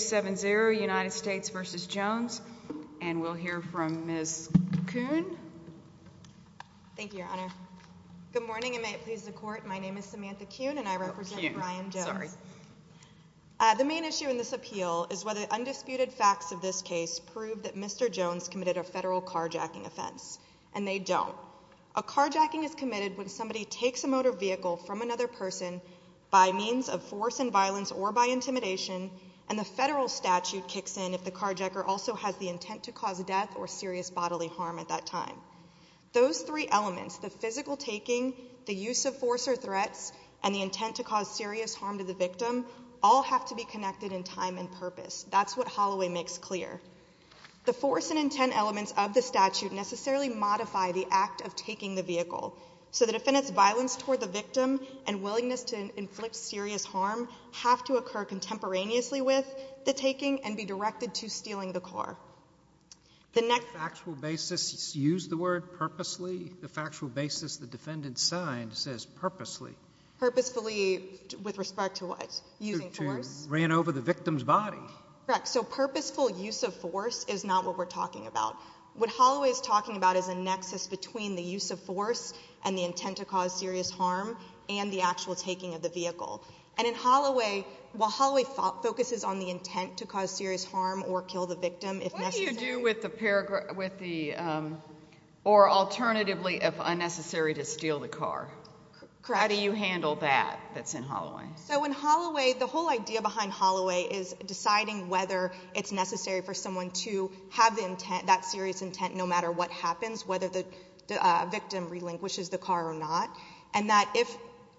The main issue in this appeal is whether undisputed facts of this case prove that Mr. Jones committed a federal carjacking offense. And they don't. A carjacking is committed when somebody takes a motor vehicle from another person by means of force and violence or by intimidation, and the federal statute kicks in if the carjacker also has the intent to cause death or serious bodily harm at that time. Those three elements, the physical taking, the use of force or threats, and the intent to cause serious harm to the victim, all have to be connected in time and purpose. That's what Holloway makes clear. The force and intent elements of the statute necessarily modify the act of taking the vehicle. So the defendant's violence toward the victim and willingness to inflict serious harm have to occur contemporaneously with the taking and be directed to stealing the car. The next- Factual basis. He used the word purposely. The factual basis the defendant signed says purposely. Purposefully with respect to what? Using force? To ran over the victim's body. Correct. So purposeful use of force is not what we're talking about. What Holloway is talking about is a nexus between the use of force and the intent to cause serious harm and the actual taking of the vehicle. And in Holloway, while Holloway focuses on the intent to cause serious harm or kill the victim if necessary- What do you do with the paragraph, with the, or alternatively if unnecessary to steal the car? Correct. How do you handle that that's in Holloway? So in Holloway, the whole idea behind Holloway is deciding whether it's necessary for someone to have the intent, that serious intent, no matter what happens, whether the victim relinquishes the car or not. And that if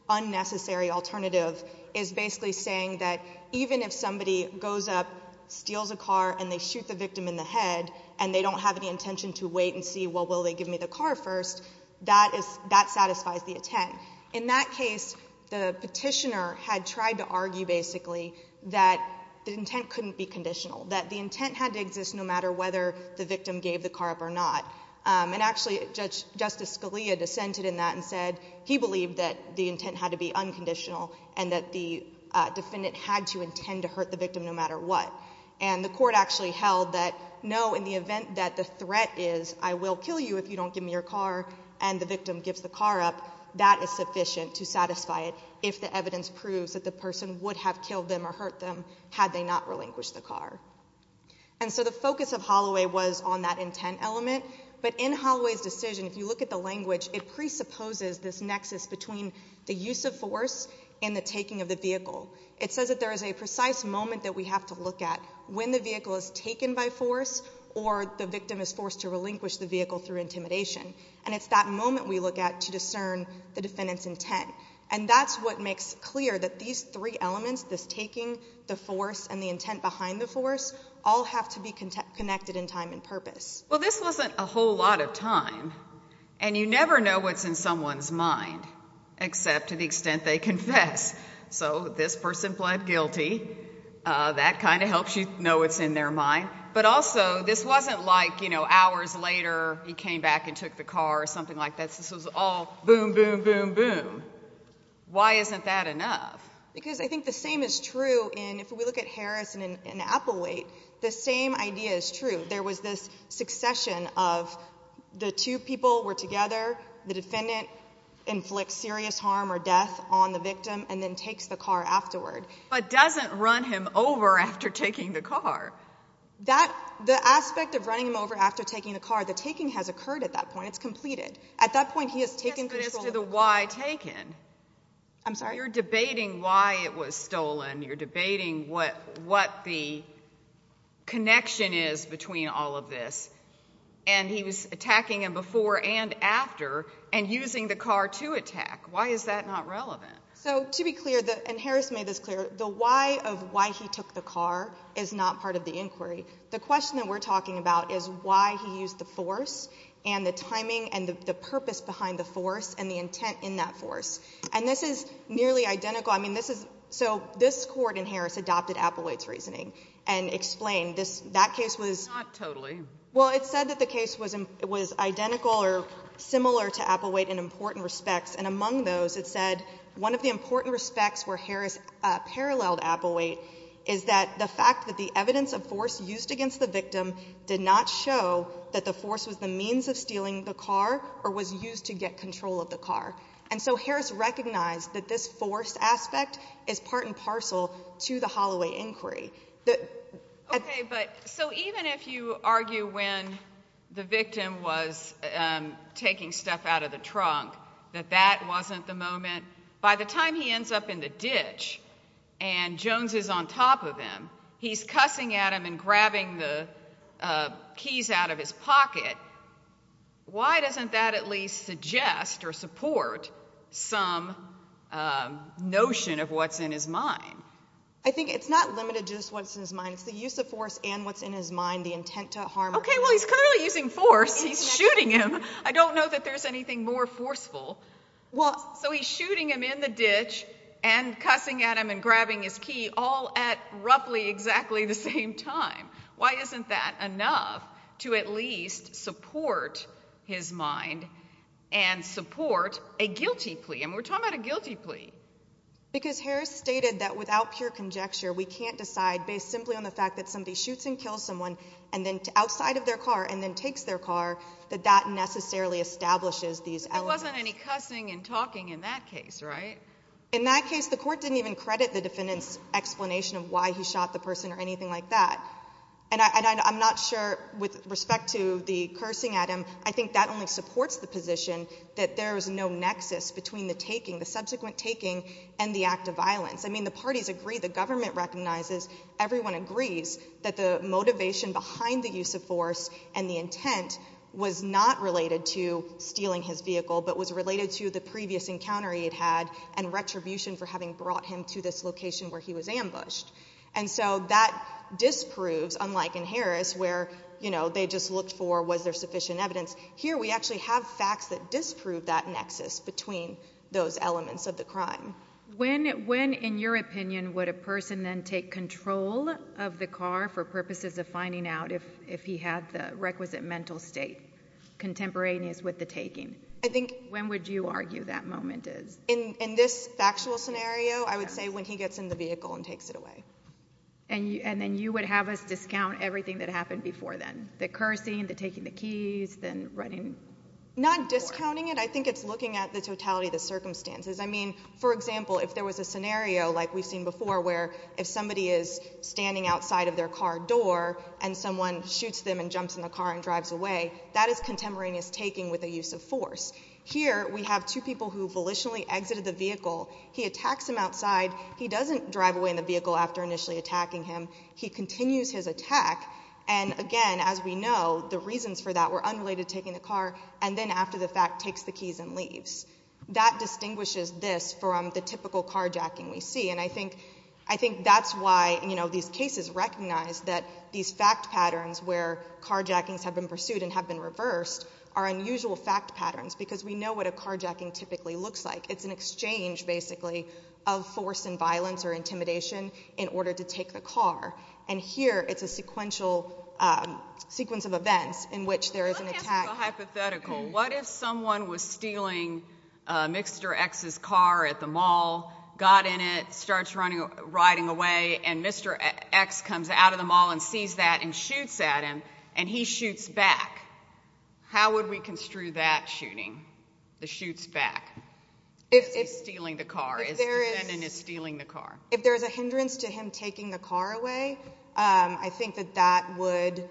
unnecessary alternative is basically saying that even if somebody goes up, steals a car, and they shoot the victim in the head, and they don't have any intention to wait and see, well, will they give me the car first, that satisfies the intent. In that case, the petitioner had tried to argue, basically, that the intent couldn't be conditional, that the intent had to exist no matter whether the victim gave the car up or not. And actually, Justice Scalia dissented in that and said he believed that the intent had to be unconditional and that the defendant had to intend to hurt the victim no matter what. And the court actually held that no, in the event that the threat is, I will kill you if you don't give me your car, and the victim gives the car up, that is sufficient to satisfy it if the evidence proves that the person would have killed them or hurt them had they not relinquished the car. And so the focus of Holloway was on that intent element, but in Holloway's decision, if you look at the language, it presupposes this nexus between the use of force and the taking of the vehicle. It says that there is a precise moment that we have to look at when the vehicle is taken by force or the victim is forced to relinquish the vehicle through intimidation. And it's that moment we look at to discern the defendant's intent. And that's what makes clear that these three elements, this taking, the force, and the intent behind the force, all have to be connected in time and purpose. Well, this wasn't a whole lot of time. And you never know what's in someone's mind except to the extent they confess. So this person pled guilty. That kind of helps you know what's in their mind. But also, this wasn't like, you know, hours later, he came back and took the car or something like that. Yes. This was all boom, boom, boom, boom. Why isn't that enough? Because I think the same is true in, if we look at Harris and Applewaite, the same idea is true. There was this succession of the two people were together, the defendant inflicts serious harm or death on the victim and then takes the car afterward. But doesn't run him over after taking the car. The aspect of running him over after taking the car, the taking has occurred at that point. It's completed. At that point, he has taken control. But as to the why taken. I'm sorry. You're debating why it was stolen. You're debating what the connection is between all of this. And he was attacking him before and after and using the car to attack. Why is that not relevant? So to be clear, and Harris made this clear, the why of why he took the car is not part of the inquiry. The question that we're talking about is why he used the force and the timing and the purpose behind the force and the intent in that force. And this is nearly identical. I mean, this is so this court in Harris adopted Applewaite's reasoning and explained this that case was totally well, it said that the case was it was identical or similar to Applewaite in important respects. And among those, it said one of the important respects where Harris paralleled Applewaite is that the fact that the evidence of force used against the victim did not show that the force was the means of stealing the car or was used to get control of the car. And so Harris recognized that this force aspect is part and parcel to the Holloway inquiry. OK, but so even if you argue when the victim was taking stuff out of the trunk, that that was on top of him, he's cussing at him and grabbing the keys out of his pocket. Why doesn't that at least suggest or support some notion of what's in his mind? I think it's not limited to just what's in his mind, it's the use of force and what's in his mind, the intent to harm. OK, well, he's clearly using force. He's shooting him. I don't know that there's anything more forceful. Well, so he's shooting him in the ditch and cussing at him and grabbing his key all at roughly exactly the same time. Why isn't that enough to at least support his mind and support a guilty plea? And we're talking about a guilty plea. Because Harris stated that without pure conjecture, we can't decide based simply on the fact that somebody shoots and kills someone and then outside of their car and then takes their car, that that necessarily establishes these elements. But there wasn't any cussing and talking in that case, right? In that case, the court didn't even credit the defendant's explanation of why he shot the person or anything like that. And I'm not sure with respect to the cursing at him, I think that only supports the position that there is no nexus between the taking, the subsequent taking, and the act of violence. I mean, the parties agree, the government recognizes, everyone agrees that the motivation behind the use of force and the intent was not related to stealing his vehicle, but was related to the previous encounter he had had and retribution for having brought him to this location where he was ambushed. And so that disproves, unlike in Harris where, you know, they just looked for was there sufficient evidence, here we actually have facts that disprove that nexus between those elements of the crime. When, in your opinion, would a person then take control of the car for purposes of finding out if he had the requisite mental state contemporaneous with the taking? When would you argue that moment is? In this factual scenario, I would say when he gets in the vehicle and takes it away. And then you would have us discount everything that happened before then? The cursing, the taking the keys, the running? Not discounting it. I think it's looking at the totality of the circumstances. I mean, for example, if there was a scenario like we've seen before where if somebody is standing outside of their car door and someone shoots them and jumps in the car and drives away, that is contemporaneous taking with a use of force. Here we have two people who volitionally exited the vehicle. He attacks him outside. He doesn't drive away in the vehicle after initially attacking him. He continues his attack. And again, as we know, the reasons for that were unrelated to taking the car and then after the fact takes the keys and leaves. That distinguishes this from the typical carjacking we see. And I think that's why these cases recognize that these fact patterns where carjackings have been pursued and have been reversed are unusual fact patterns because we know what a carjacking typically looks like. It's an exchange, basically, of force and violence or intimidation in order to take the car. And here it's a sequence of events in which there is an attack. It's a hypothetical. What if someone was stealing Mr. X's car at the mall, got in it, starts riding away and Mr. X comes out of the mall and sees that and shoots at him and he shoots back? How would we construe that shooting? The shoots back? If he's stealing the car. If the defendant is stealing the car. If there is a hindrance to him taking the car away, I think that that would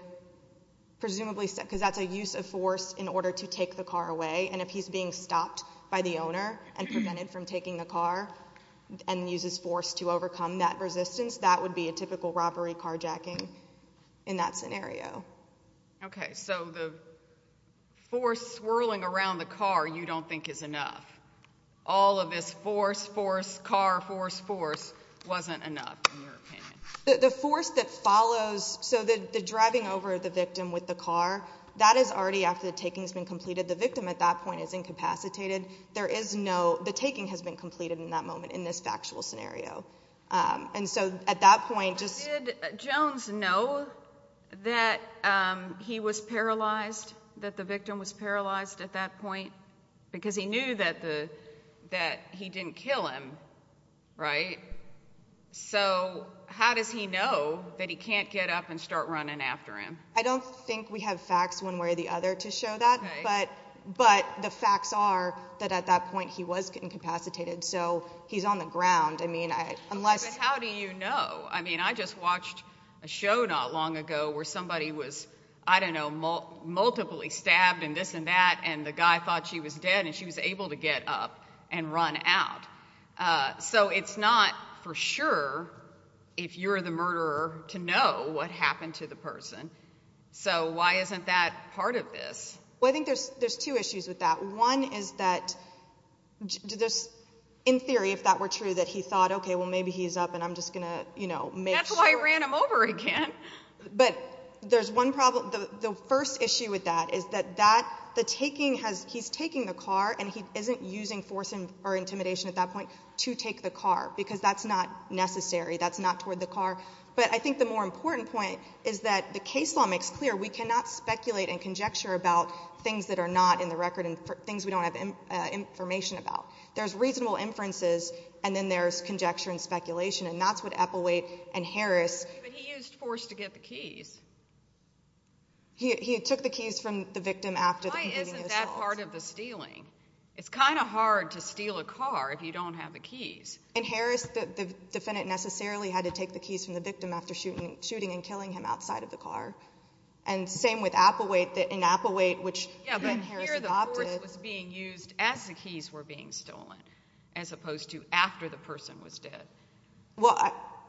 presumably because that's a use of force in order to take the car away. And if he's being stopped by the owner and prevented from taking the car and uses force to overcome that resistance, that would be a typical robbery carjacking in that scenario. Okay. So the force swirling around the car you don't think is enough. All of this force, force, car, force, force wasn't enough in your opinion. The force that follows, so the driving over of the victim with the car, that is already after the taking has been completed. The victim at that point is incapacitated. There is no, the taking has been completed in that moment in this factual scenario. And so at that point, just- Did Jones know that he was paralyzed, that the victim was paralyzed at that point? Because he knew that he didn't kill him, right? So how does he know that he can't get up and start running after him? I don't think we have facts one way or the other to show that, but the facts are that at that point he was incapacitated. So he's on the ground. I mean, unless- But how do you know? I mean, I just watched a show not long ago where somebody was, I don't know, multiply stabbed and this and that, and the guy thought she was dead and she was able to get up and run out. So it's not for sure if you're the murderer to know what happened to the person. So why isn't that part of this? Well, I think there's two issues with that. One is that, in theory, if that were true, that he thought, okay, well maybe he's up and I'm just going to, you know, make sure- That's why I ran him over again. But there's one problem. The first issue with that is that the taking has, he's taking the car and he isn't using force or intimidation at that point to take the car because that's not necessary. That's not toward the car. But I think the more important point is that the case law makes clear we cannot speculate and conjecture about things that are not in the record and things we don't have information about. There's reasonable inferences and then there's conjecture and speculation, and that's what Epplewaite and Harris- But he used force to get the keys. He took the keys from the victim after- Why isn't that part of the stealing? It's kind of hard to steal a car if you don't have the keys. In Harris, the defendant necessarily had to take the keys from the victim after shooting and killing him outside of the car. And same with Applewaite, in Applewaite, which Ben Harris adopted- Yeah, but here the force was being used as the keys were being stolen, as opposed to after the person was dead. Well,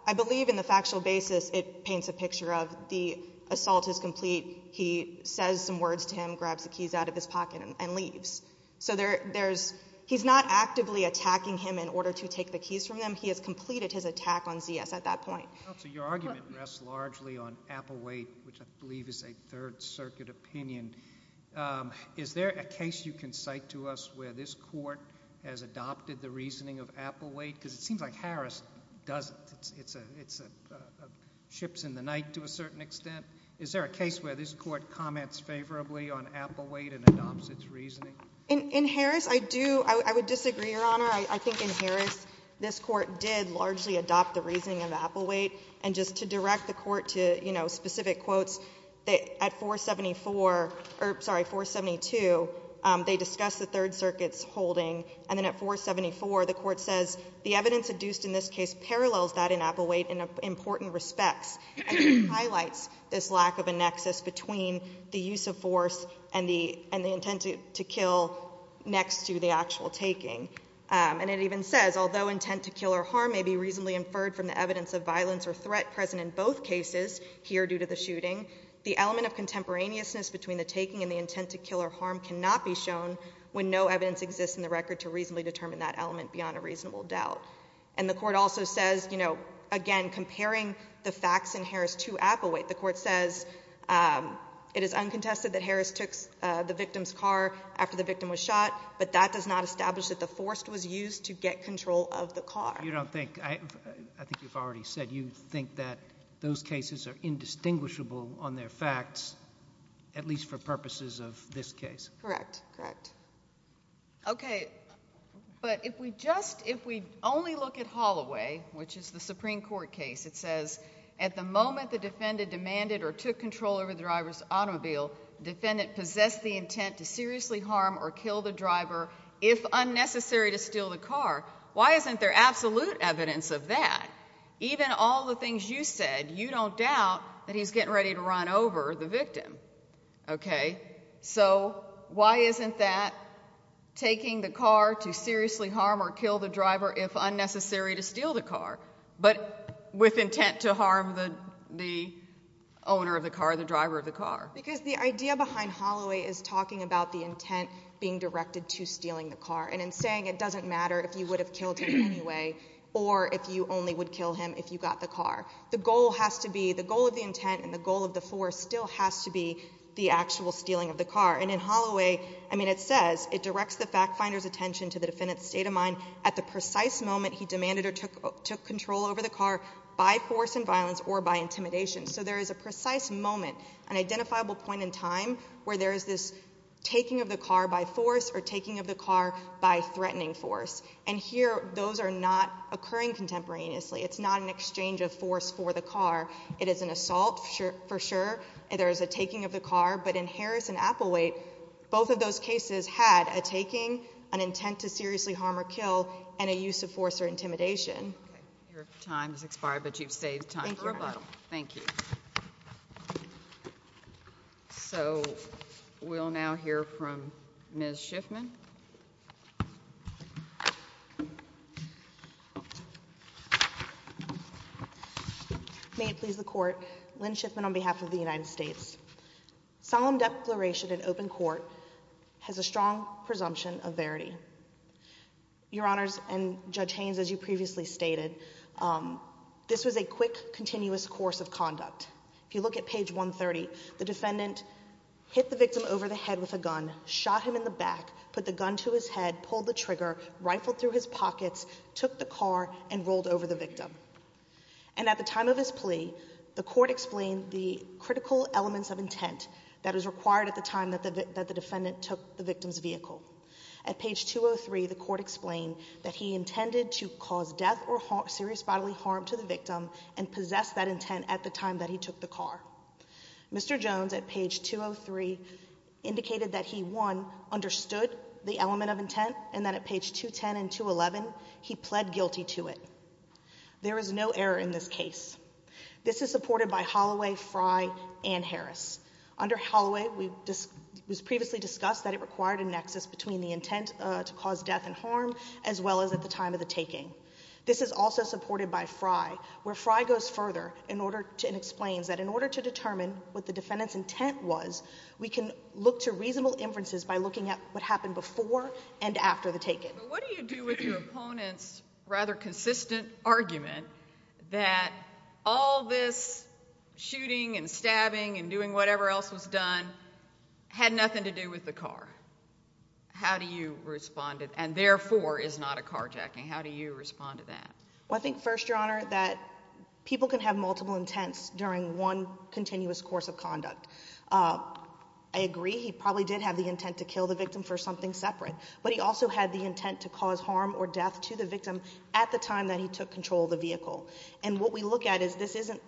I believe in the factual basis it paints a picture of the assault is complete, he says some words to him, grabs the keys out of his pocket, and leaves. So there's- he's not actively attacking him in order to take the keys from him. He has completed his attack on Z.S. at that point. Counsel, your argument rests largely on Applewaite, which I believe is a Third Circuit opinion. Is there a case you can cite to us where this court has adopted the reasoning of Applewaite? Because it seems like Harris doesn't. It's a- ships in the night to a certain extent. Is there a case where this Court comments favorably on Applewaite and adopts its reasoning? In Harris, I do- I would disagree, Your Honor. I think in Harris, this Court did largely adopt the reasoning of Applewaite. And just to direct the Court to, you know, specific quotes, at 474- or, sorry, 472, they discuss the Third Circuit's holding. And then at 474, the Court says the evidence adduced in this case parallels that in Applewaite in important respects and highlights this lack of a nexus between the use of force and the- and the intent to kill next to the actual taking. And it even says, although intent to kill or harm may be reasonably inferred from the evidence of violence or threat present in both cases here due to the shooting, the element of contemporaneousness between the taking and the intent to kill or harm cannot be shown when no evidence exists in the record to reasonably determine that element beyond a reasonable doubt. And the Court also says, you know, again, comparing the facts in Harris to Applewaite, the Court says it is uncontested that Harris took the victim's car after the victim was shot, but that does not establish that the force was used to get control of the car. You don't think- I think you've already said you think that those cases are indistinguishable on their facts, at least for purposes of this case. Correct. Correct. Okay. But if we just- if we only look at Holloway, which is the Supreme Court case, it says at the moment the defendant demanded or took control over the driver's automobile, the defendant possessed the intent to seriously harm or kill the driver if unnecessary to steal the car. Why isn't there absolute evidence of that? Even all the things you said, you don't doubt that he's getting ready to run over the victim. Okay. So why isn't that taking the car to seriously harm or kill the driver if unnecessary to steal the car, but with intent to harm the owner of the car, the driver of the car? Because the idea behind Holloway is talking about the intent being directed to stealing the car. And in saying it doesn't matter if you would have killed him anyway, or if you only would kill him if you got the car. The goal has to be- the goal of the intent and the goal of the force still has to be the actual stealing of the car. And in Holloway, I mean it says, it directs the fact finder's attention to the defendant's state of mind at the precise moment he demanded or took control over the car by force and violence or by intimidation. So there is a precise moment, an identifiable point in time, where there is this taking of the car by force or taking of the car by threatening force. And here those are not occurring contemporaneously. It's not an exchange of force for the car. It is an assault for sure. There is a taking of the car. But in Harris and Applewaite, both of those cases had a taking, an intent to seriously harm or kill, and a use of force or intimidation. Okay. Your time has expired, but you've saved time for a while. Thank you. Thank you. So we'll now hear from Ms. Schiffman. May it please the Court. Ms. Schiffman, on behalf of the United States, solemn declaration in open court has a strong presumption of verity. Your Honors, and Judge Haynes, as you previously stated, this was a quick, continuous course of conduct. If you look at page 130, the defendant hit the victim over the head with a gun, shot him in the back, put the gun to his head, pulled the trigger, rifled through his pockets, took the car, and rolled over the victim. And at the time of his plea, the Court explained the critical elements of intent that was required at the time that the defendant took the victim's vehicle. At page 203, the Court explained that he intended to cause death or serious bodily harm to the victim and possess that intent at the time that he took the car. Mr. Jones, at page 203, indicated that he, one, understood the element of intent, and that at page 210 and 211, he pled guilty to it. There is no error in this case. This is supported by Holloway, Frey, and Harris. Under Holloway, it was previously discussed that it required a nexus between the intent to cause death and harm, as well as at the time of the taking. This is also supported by Frey, where Frey goes further and explains that in order to determine what the defendant's intent was, we can look to reasonable inferences by looking at what happened before and after the taking. What do you do with your opponent's rather consistent argument that all this shooting and stabbing and doing whatever else was done had nothing to do with the car? How do you respond, and therefore, is not a carjacking? How do you respond to that? Well, I think first, Your Honor, that people can have multiple intents during one continuous course of conduct. I agree, he probably did have the intent to kill the victim for something separate, but he also had the intent to cause harm or death to the victim at the time that he took control of the vehicle. And what we look at is this isn't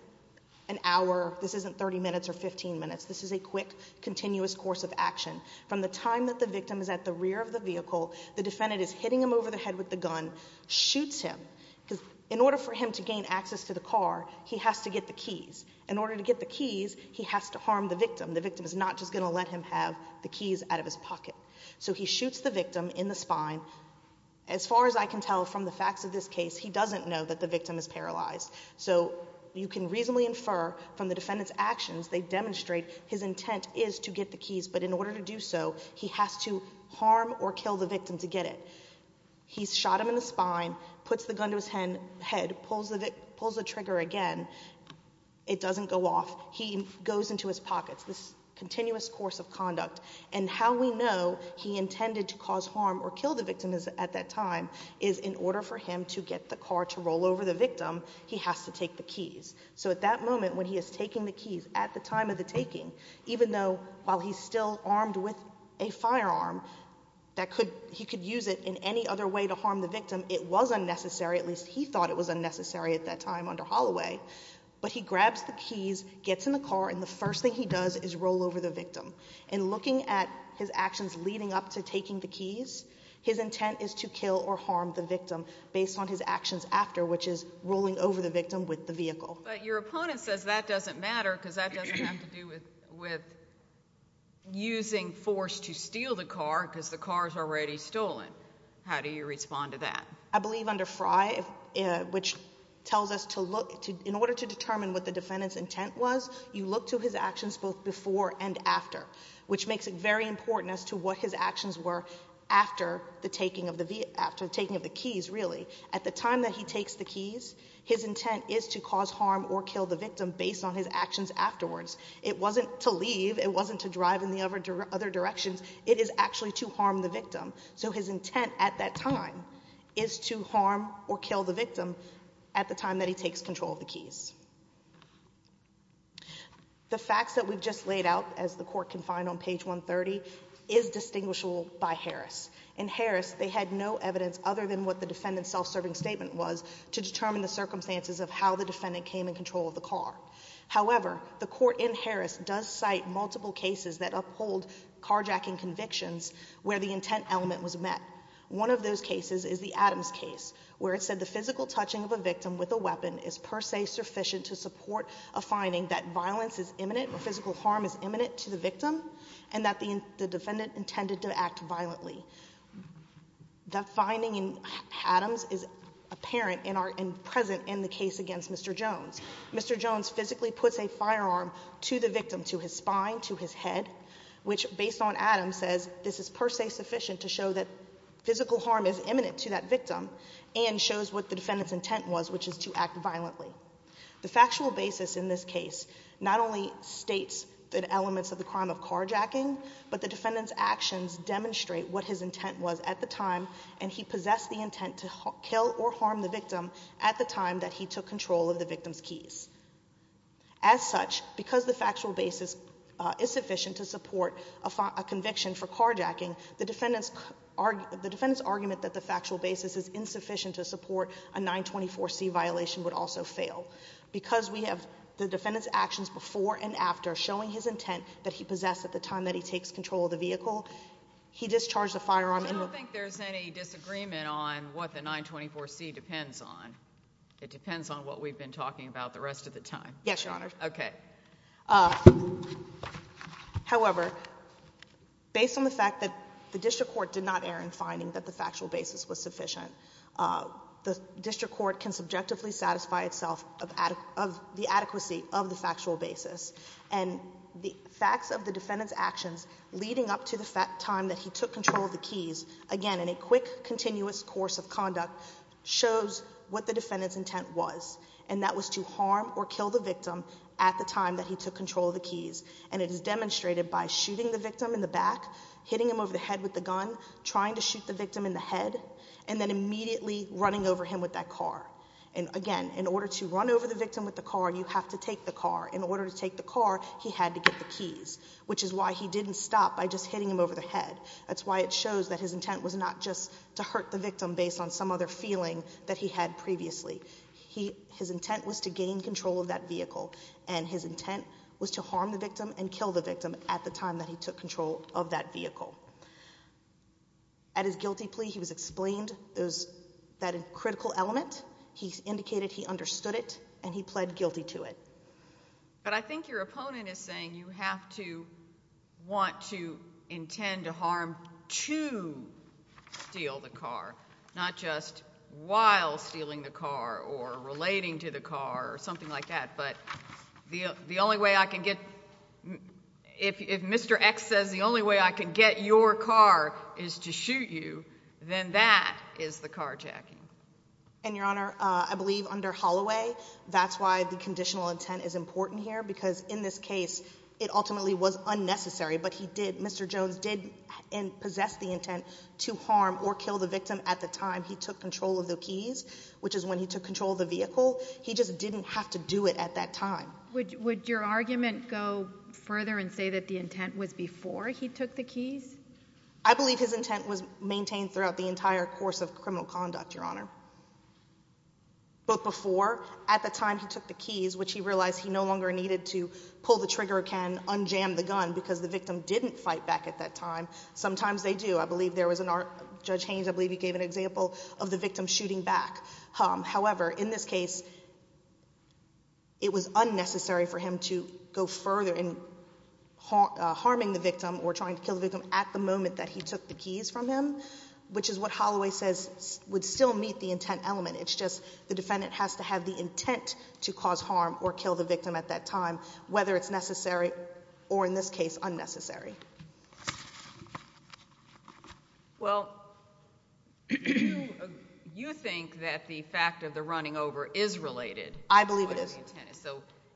an hour, this isn't 30 minutes or 15 minutes. This is a quick, continuous course of action. From the time that the victim is at the rear of the vehicle, the defendant is hitting him over the head with the gun, shoots him, because in order for him to gain access to the car, he has to get the keys. In order to get the keys, he has to harm the victim. The victim is not just going to let him have the keys out of his pocket. So he shoots the victim in the spine. As far as I can tell from the facts of this case, he doesn't know that the victim is paralyzed. So you can reasonably infer from the defendant's actions, they demonstrate his intent is to get the keys, but in order to do so, he has to harm or kill the victim to get it. He's shot him in the spine, puts the gun to his head, pulls the trigger again, it doesn't go off. He goes into his pockets, this continuous course of conduct. And how we know he intended to cause harm or kill the victim at that time is in order for him to get the car to roll over the victim, he has to take the keys. So at that moment, when he is taking the keys, at the time of the taking, even though while he's still armed with a firearm, he could use it in any other way to harm the victim. It was unnecessary, at least he thought it was unnecessary at that time under Holloway. But he grabs the keys, gets in the car, and the first thing he does is roll over the victim. In looking at his actions leading up to taking the keys, his intent is to kill or harm the victim based on his actions after, which is rolling over the victim with the vehicle. But your opponent says that doesn't matter because that doesn't have to do with using force to steal the car because the car is already stolen. How do you respond to that? I believe under Frye, which tells us to look, in order to determine what the defendant's intent was, you look to his actions both before and after, which makes it very important as to what his actions were after the taking of the keys, really. At the time that he takes the keys, his intent is to cause harm or kill the victim based on his actions afterwards. It wasn't to leave, it wasn't to drive in the other directions, it is actually to harm the victim. So his intent at that time is to harm or kill the victim at the time that he takes control of the keys. The facts that we've just laid out, as the court can find on page 130, is distinguishable by Harris. In Harris, they had no evidence other than what the defendant's self-serving statement was to determine the circumstances of how the defendant came in control of the car. However, the court in Harris does cite multiple cases that uphold carjacking convictions where the intent element was met. One of those cases is the Adams case, where it said the physical touching of a victim with a weapon is per se sufficient to support a finding that violence is imminent or physical harm is imminent to the victim and that the defendant intended to act violently. That finding in Adams is apparent and present in the case against Mr. Jones. Mr. Jones physically puts a firearm to the victim, to his spine, to his head, which based on Adams says this is per se sufficient to show that physical harm is imminent to that The factual basis in this case not only states the elements of the crime of carjacking, but the defendant's actions demonstrate what his intent was at the time and he possessed the intent to kill or harm the victim at the time that he took control of the victim's keys. As such, because the factual basis is sufficient to support a conviction for carjacking, the violation would also fail. Because we have the defendant's actions before and after showing his intent that he possessed at the time that he takes control of the vehicle, he discharged the firearm and I don't think there's any disagreement on what the 924C depends on. It depends on what we've been talking about the rest of the time. Yes, Your Honor. Okay. However, based on the fact that the district court did not err in finding that the factual basis and the facts of the defendant's actions leading up to the time that he took control of the keys, again, in a quick, continuous course of conduct, shows what the defendant's intent was, and that was to harm or kill the victim at the time that he took control of the keys. And it is demonstrated by shooting the victim in the back, hitting him over the head with the gun, trying to shoot the victim in the head, and then immediately running over him with that car. And, again, in order to run over the victim with the car, you have to take the car. In order to take the car, he had to get the keys, which is why he didn't stop by just hitting him over the head. That's why it shows that his intent was not just to hurt the victim based on some other feeling that he had previously. His intent was to gain control of that vehicle, and his intent was to harm the victim and kill the victim at the time that he took control of that vehicle. At his guilty plea, he was explained that critical element. He indicated he understood it, and he pled guilty to it. But I think your opponent is saying you have to want to intend to harm to steal the car, not just while stealing the car or relating to the car or something like that. But if Mr. X says the only way I can get your car is to shoot you, then that is the carjacking. And, Your Honor, I believe under Holloway, that's why the conditional intent is important here because in this case, it ultimately was unnecessary, but Mr. Jones did possess the intent to harm or kill the victim at the time he took control of the keys, which is when he took control of the vehicle. He just didn't have to do it at that time. Would your argument go further and say that the intent was before he took the keys? I believe his intent was maintained throughout the entire course of criminal conduct, Your Honor. But before, at the time he took the keys, which he realized he no longer needed to pull the trigger can unjam the gun because the victim didn't fight back at that time. Sometimes they do. I believe there was an art, Judge Haynes, I believe he gave an example of the victim shooting back. However, in this case, it was unnecessary for him to go further in harming the victim or trying to kill the victim at the moment that he took the keys from him, which is what Holloway says would still meet the intent element. It's just the defendant has to have the intent to cause harm or kill the victim at that time, whether it's necessary or, in this case, unnecessary. Well, you think that the fact of the running over is related. I believe it is.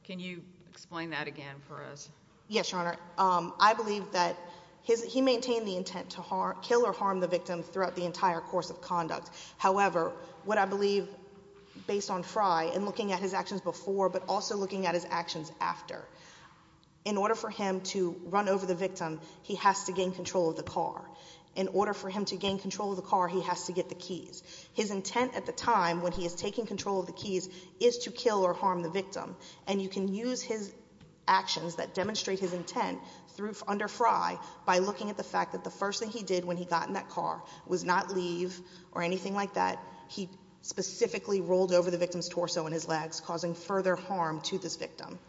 Can you explain that again for us? Yes, Your Honor. I believe that he maintained the intent to kill or harm the victim throughout the entire course of conduct. However, what I believe, based on Frye and looking at his actions before, but also looking at his actions after, in order for him to run over the victim, he has to gain control of the car. In order for him to gain control of the car, he has to get the keys. His intent at the time when he is taking control of the keys is to kill or harm the victim. And you can use his actions that demonstrate his intent under Frye by looking at the fact that the first thing he did when he got in that car was not leave or anything like that. He specifically rolled over the victim's torso and his legs, causing further harm to this victim.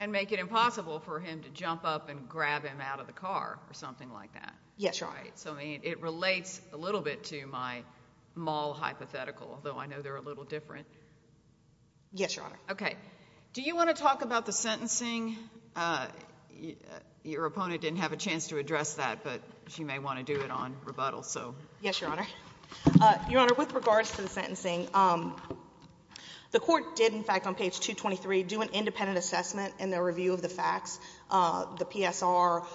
And make it impossible for him to jump up and grab him out of the car or something like that. Yes, Your Honor. Right? So, I mean, it relates a little bit to my maul hypothetical, although I know they're a little different. Yes, Your Honor. Okay. Do you want to talk about the sentencing? Your opponent didn't have a chance to address that, but she may want to do it on rebuttal, so. Yes, Your Honor. Your Honor, with regards to the sentencing, the court did, in fact, on page 223, do an independent assessment and a review of the facts, the PSR,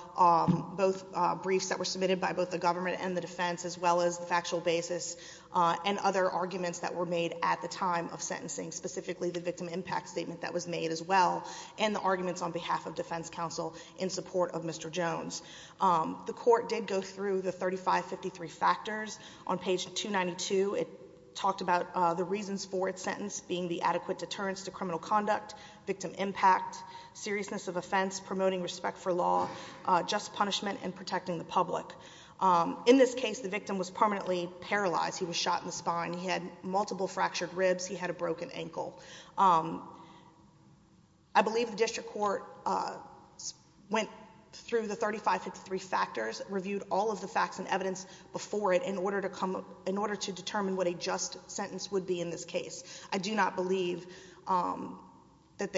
both briefs that were submitted by both the government and the defense, as well as the factual basis and other arguments that were made at the time of sentencing, specifically the victim impact statement that was made as well, and the arguments on behalf of defense counsel in support of Mr. Jones. The court did go through the 3553 factors. On page 292, it talked about the reasons for its sentence being the adequate deterrence to criminal conduct, victim impact, seriousness of offense, promoting respect for law, just punishment, and protecting the public. In this case, the victim was permanently paralyzed. He was shot in the spine. He had multiple fractured ribs. He had a broken ankle. I believe the district court went through the 3553 factors, reviewed all of the facts and evidence before it in order to determine what a just sentence would be in this case. I do not believe that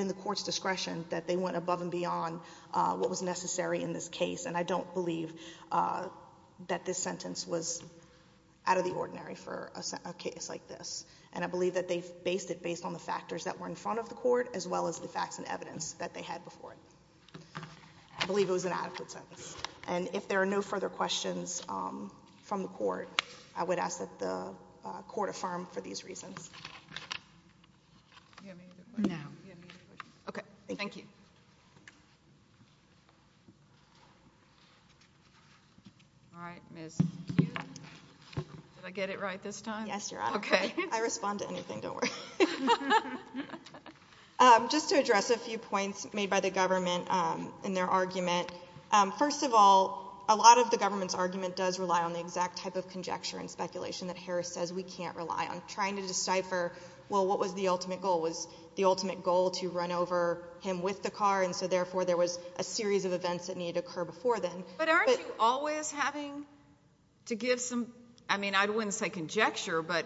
in the court's discretion that they went above and beyond what was necessary in this case, and I don't believe that this sentence was out of the ordinary for a case like this. And I believe that they based it based on the factors that were in front of the court as well as the facts and evidence that they had before it. I believe it was an adequate sentence. And if there are no further questions from the court, I would ask that the court affirm for these reasons. Do you have any other questions? No. Do you have any other questions? Okay. Thank you. All right. Ms. Hughes. Did I get it right this time? Yes, Your Honor. Okay. I really did. I can't respond to anything. Don't worry. Just to address a few points made by the government in their argument. First of all, a lot of the government's argument does rely on the exact type of conjecture and speculation that Harris says we can't rely on, trying to decipher, well, what was the ultimate goal? Was the ultimate goal to run over him with the car, and so therefore there was a series of events that needed to occur before then? But aren't you always having to give some, I mean, I wouldn't say conjecture, but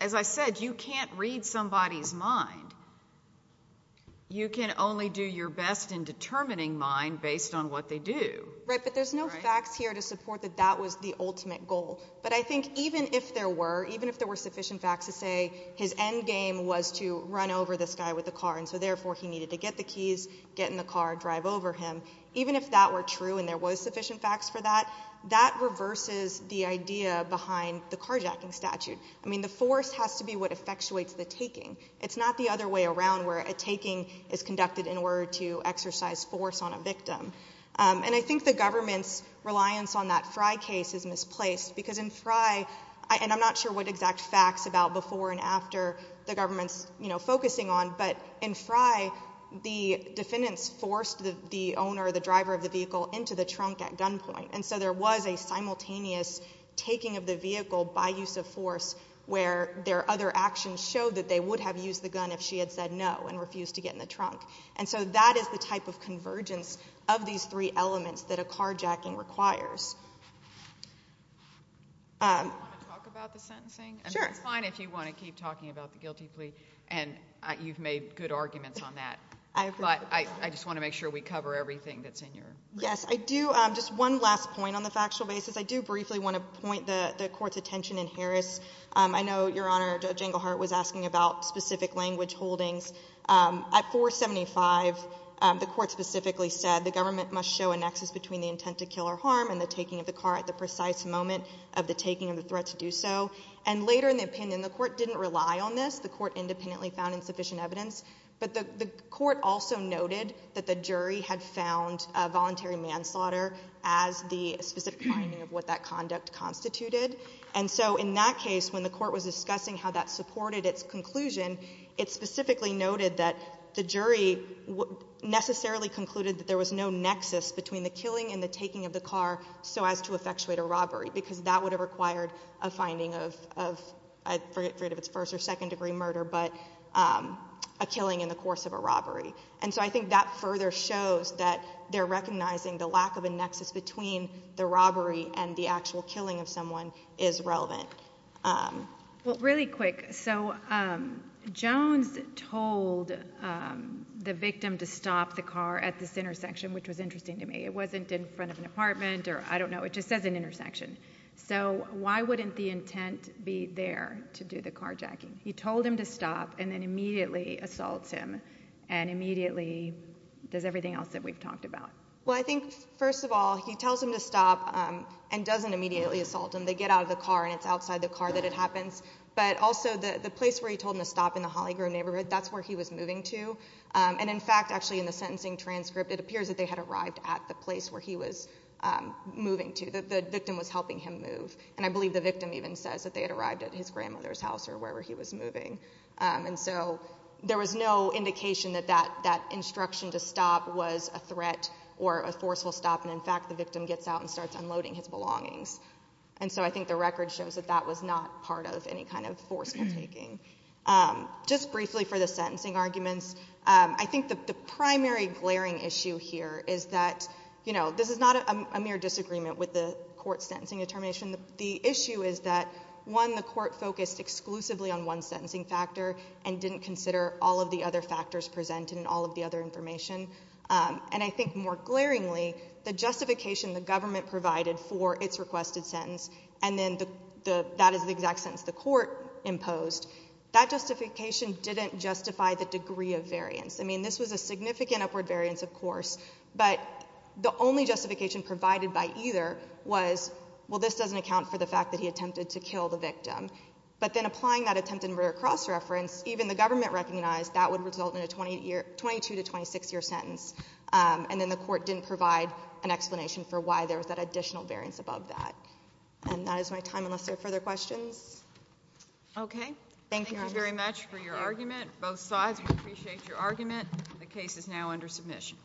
as I said, you can't read somebody's mind. You can only do your best in determining mine based on what they do. Right. But there's no facts here to support that that was the ultimate goal. But I think even if there were, even if there were sufficient facts to say his endgame was to run over this guy with the car, and so therefore he needed to get the keys, get in the car, drive over him. Even if that were true and there was sufficient facts for that, that reverses the idea behind the carjacking statute. I mean, the force has to be what effectuates the taking. It's not the other way around where a taking is conducted in order to exercise force on a victim. And I think the government's reliance on that Frye case is misplaced because in Frye, and I'm not sure what exact facts about before and after the government's, you know, focusing on, but in Frye, the defendants forced the owner, the driver of the vehicle, into the trunk at gunpoint. And so there was a simultaneous taking of the vehicle by use of force where their other actions showed that they would have used the gun if she had said no and refused to get in the trunk. And so that is the type of convergence of these three elements that a carjacking requires. Do you want to talk about the sentencing? Sure. It's fine if you want to keep talking about the guilty plea, and you've made good arguments on that. But I just want to make sure we cover everything that's in your report. Yes. I do. Just one last point on the factual basis. I do briefly want to point the court's attention in Harris. I know, Your Honor, Judge Englehart was asking about specific language holdings. At 475, the court specifically said the government must show a nexus between the intent to kill or harm and the taking of the car at the precise moment of the taking of the threat to do so. And later in the opinion, the court didn't rely on this. The court independently found insufficient evidence. But the court also noted that the jury had found a voluntary manslaughter as the specific finding of what that conduct constituted. And so in that case, when the court was discussing how that supported its conclusion, it specifically noted that the jury necessarily concluded that there was no nexus between the killing and the taking of the car so as to effectuate a robbery, because that would have required a finding of, I forget if it's first or second degree murder, but a killing in the course of a robbery. And so I think that further shows that they're recognizing the lack of a nexus between the robbery and the actual killing of someone is relevant. Well, really quick. So Jones told the victim to stop the car at this intersection, which was interesting to me. It wasn't in front of an apartment or I don't know. It just says an intersection. So why wouldn't the intent be there to do the carjacking? He told him to stop and then immediately assaults him and immediately does everything else that we've talked about. Well, I think first of all, he tells him to stop and doesn't immediately assault him. They get out of the car and it's outside the car that it happens. But also the place where he told him to stop in the Hollygrove neighborhood, that's where he was moving to. And in fact, actually in the sentencing transcript, it appears that they had arrived at the place where he was moving to, that the victim was helping him move. And I believe the victim even says that they had arrived at his grandmother's house or wherever he was moving. And so there was no indication that that instruction to stop was a threat or a forceful stop. And in fact, the victim gets out and starts unloading his belongings. And so I think the record shows that that was not part of any kind of forceful taking. Just briefly for the sentencing arguments, I think that the primary glaring issue here is that, you know, this is not a mere disagreement with the court's sentencing determination. The issue is that, one, the court focused exclusively on one sentencing factor and didn't consider all of the other factors presented in all of the other information. And I think more glaringly, the justification the government provided for its requested sentence and then that is the exact sentence the court imposed, that justification didn't justify the degree of variance. I mean, this was a significant upward variance, of course, but the only justification provided by either was, well, this doesn't account for the fact that he attempted to kill the victim. But then applying that attempt in rare cross reference, even the government recognized that would result in a 22 to 26-year sentence. And then the court didn't provide an explanation for why there was that additional variance above that. And that is my time unless there are further questions. Okay. Thank you. Thank you very much for your argument. Both sides. I appreciate your argument. The case is now under submission.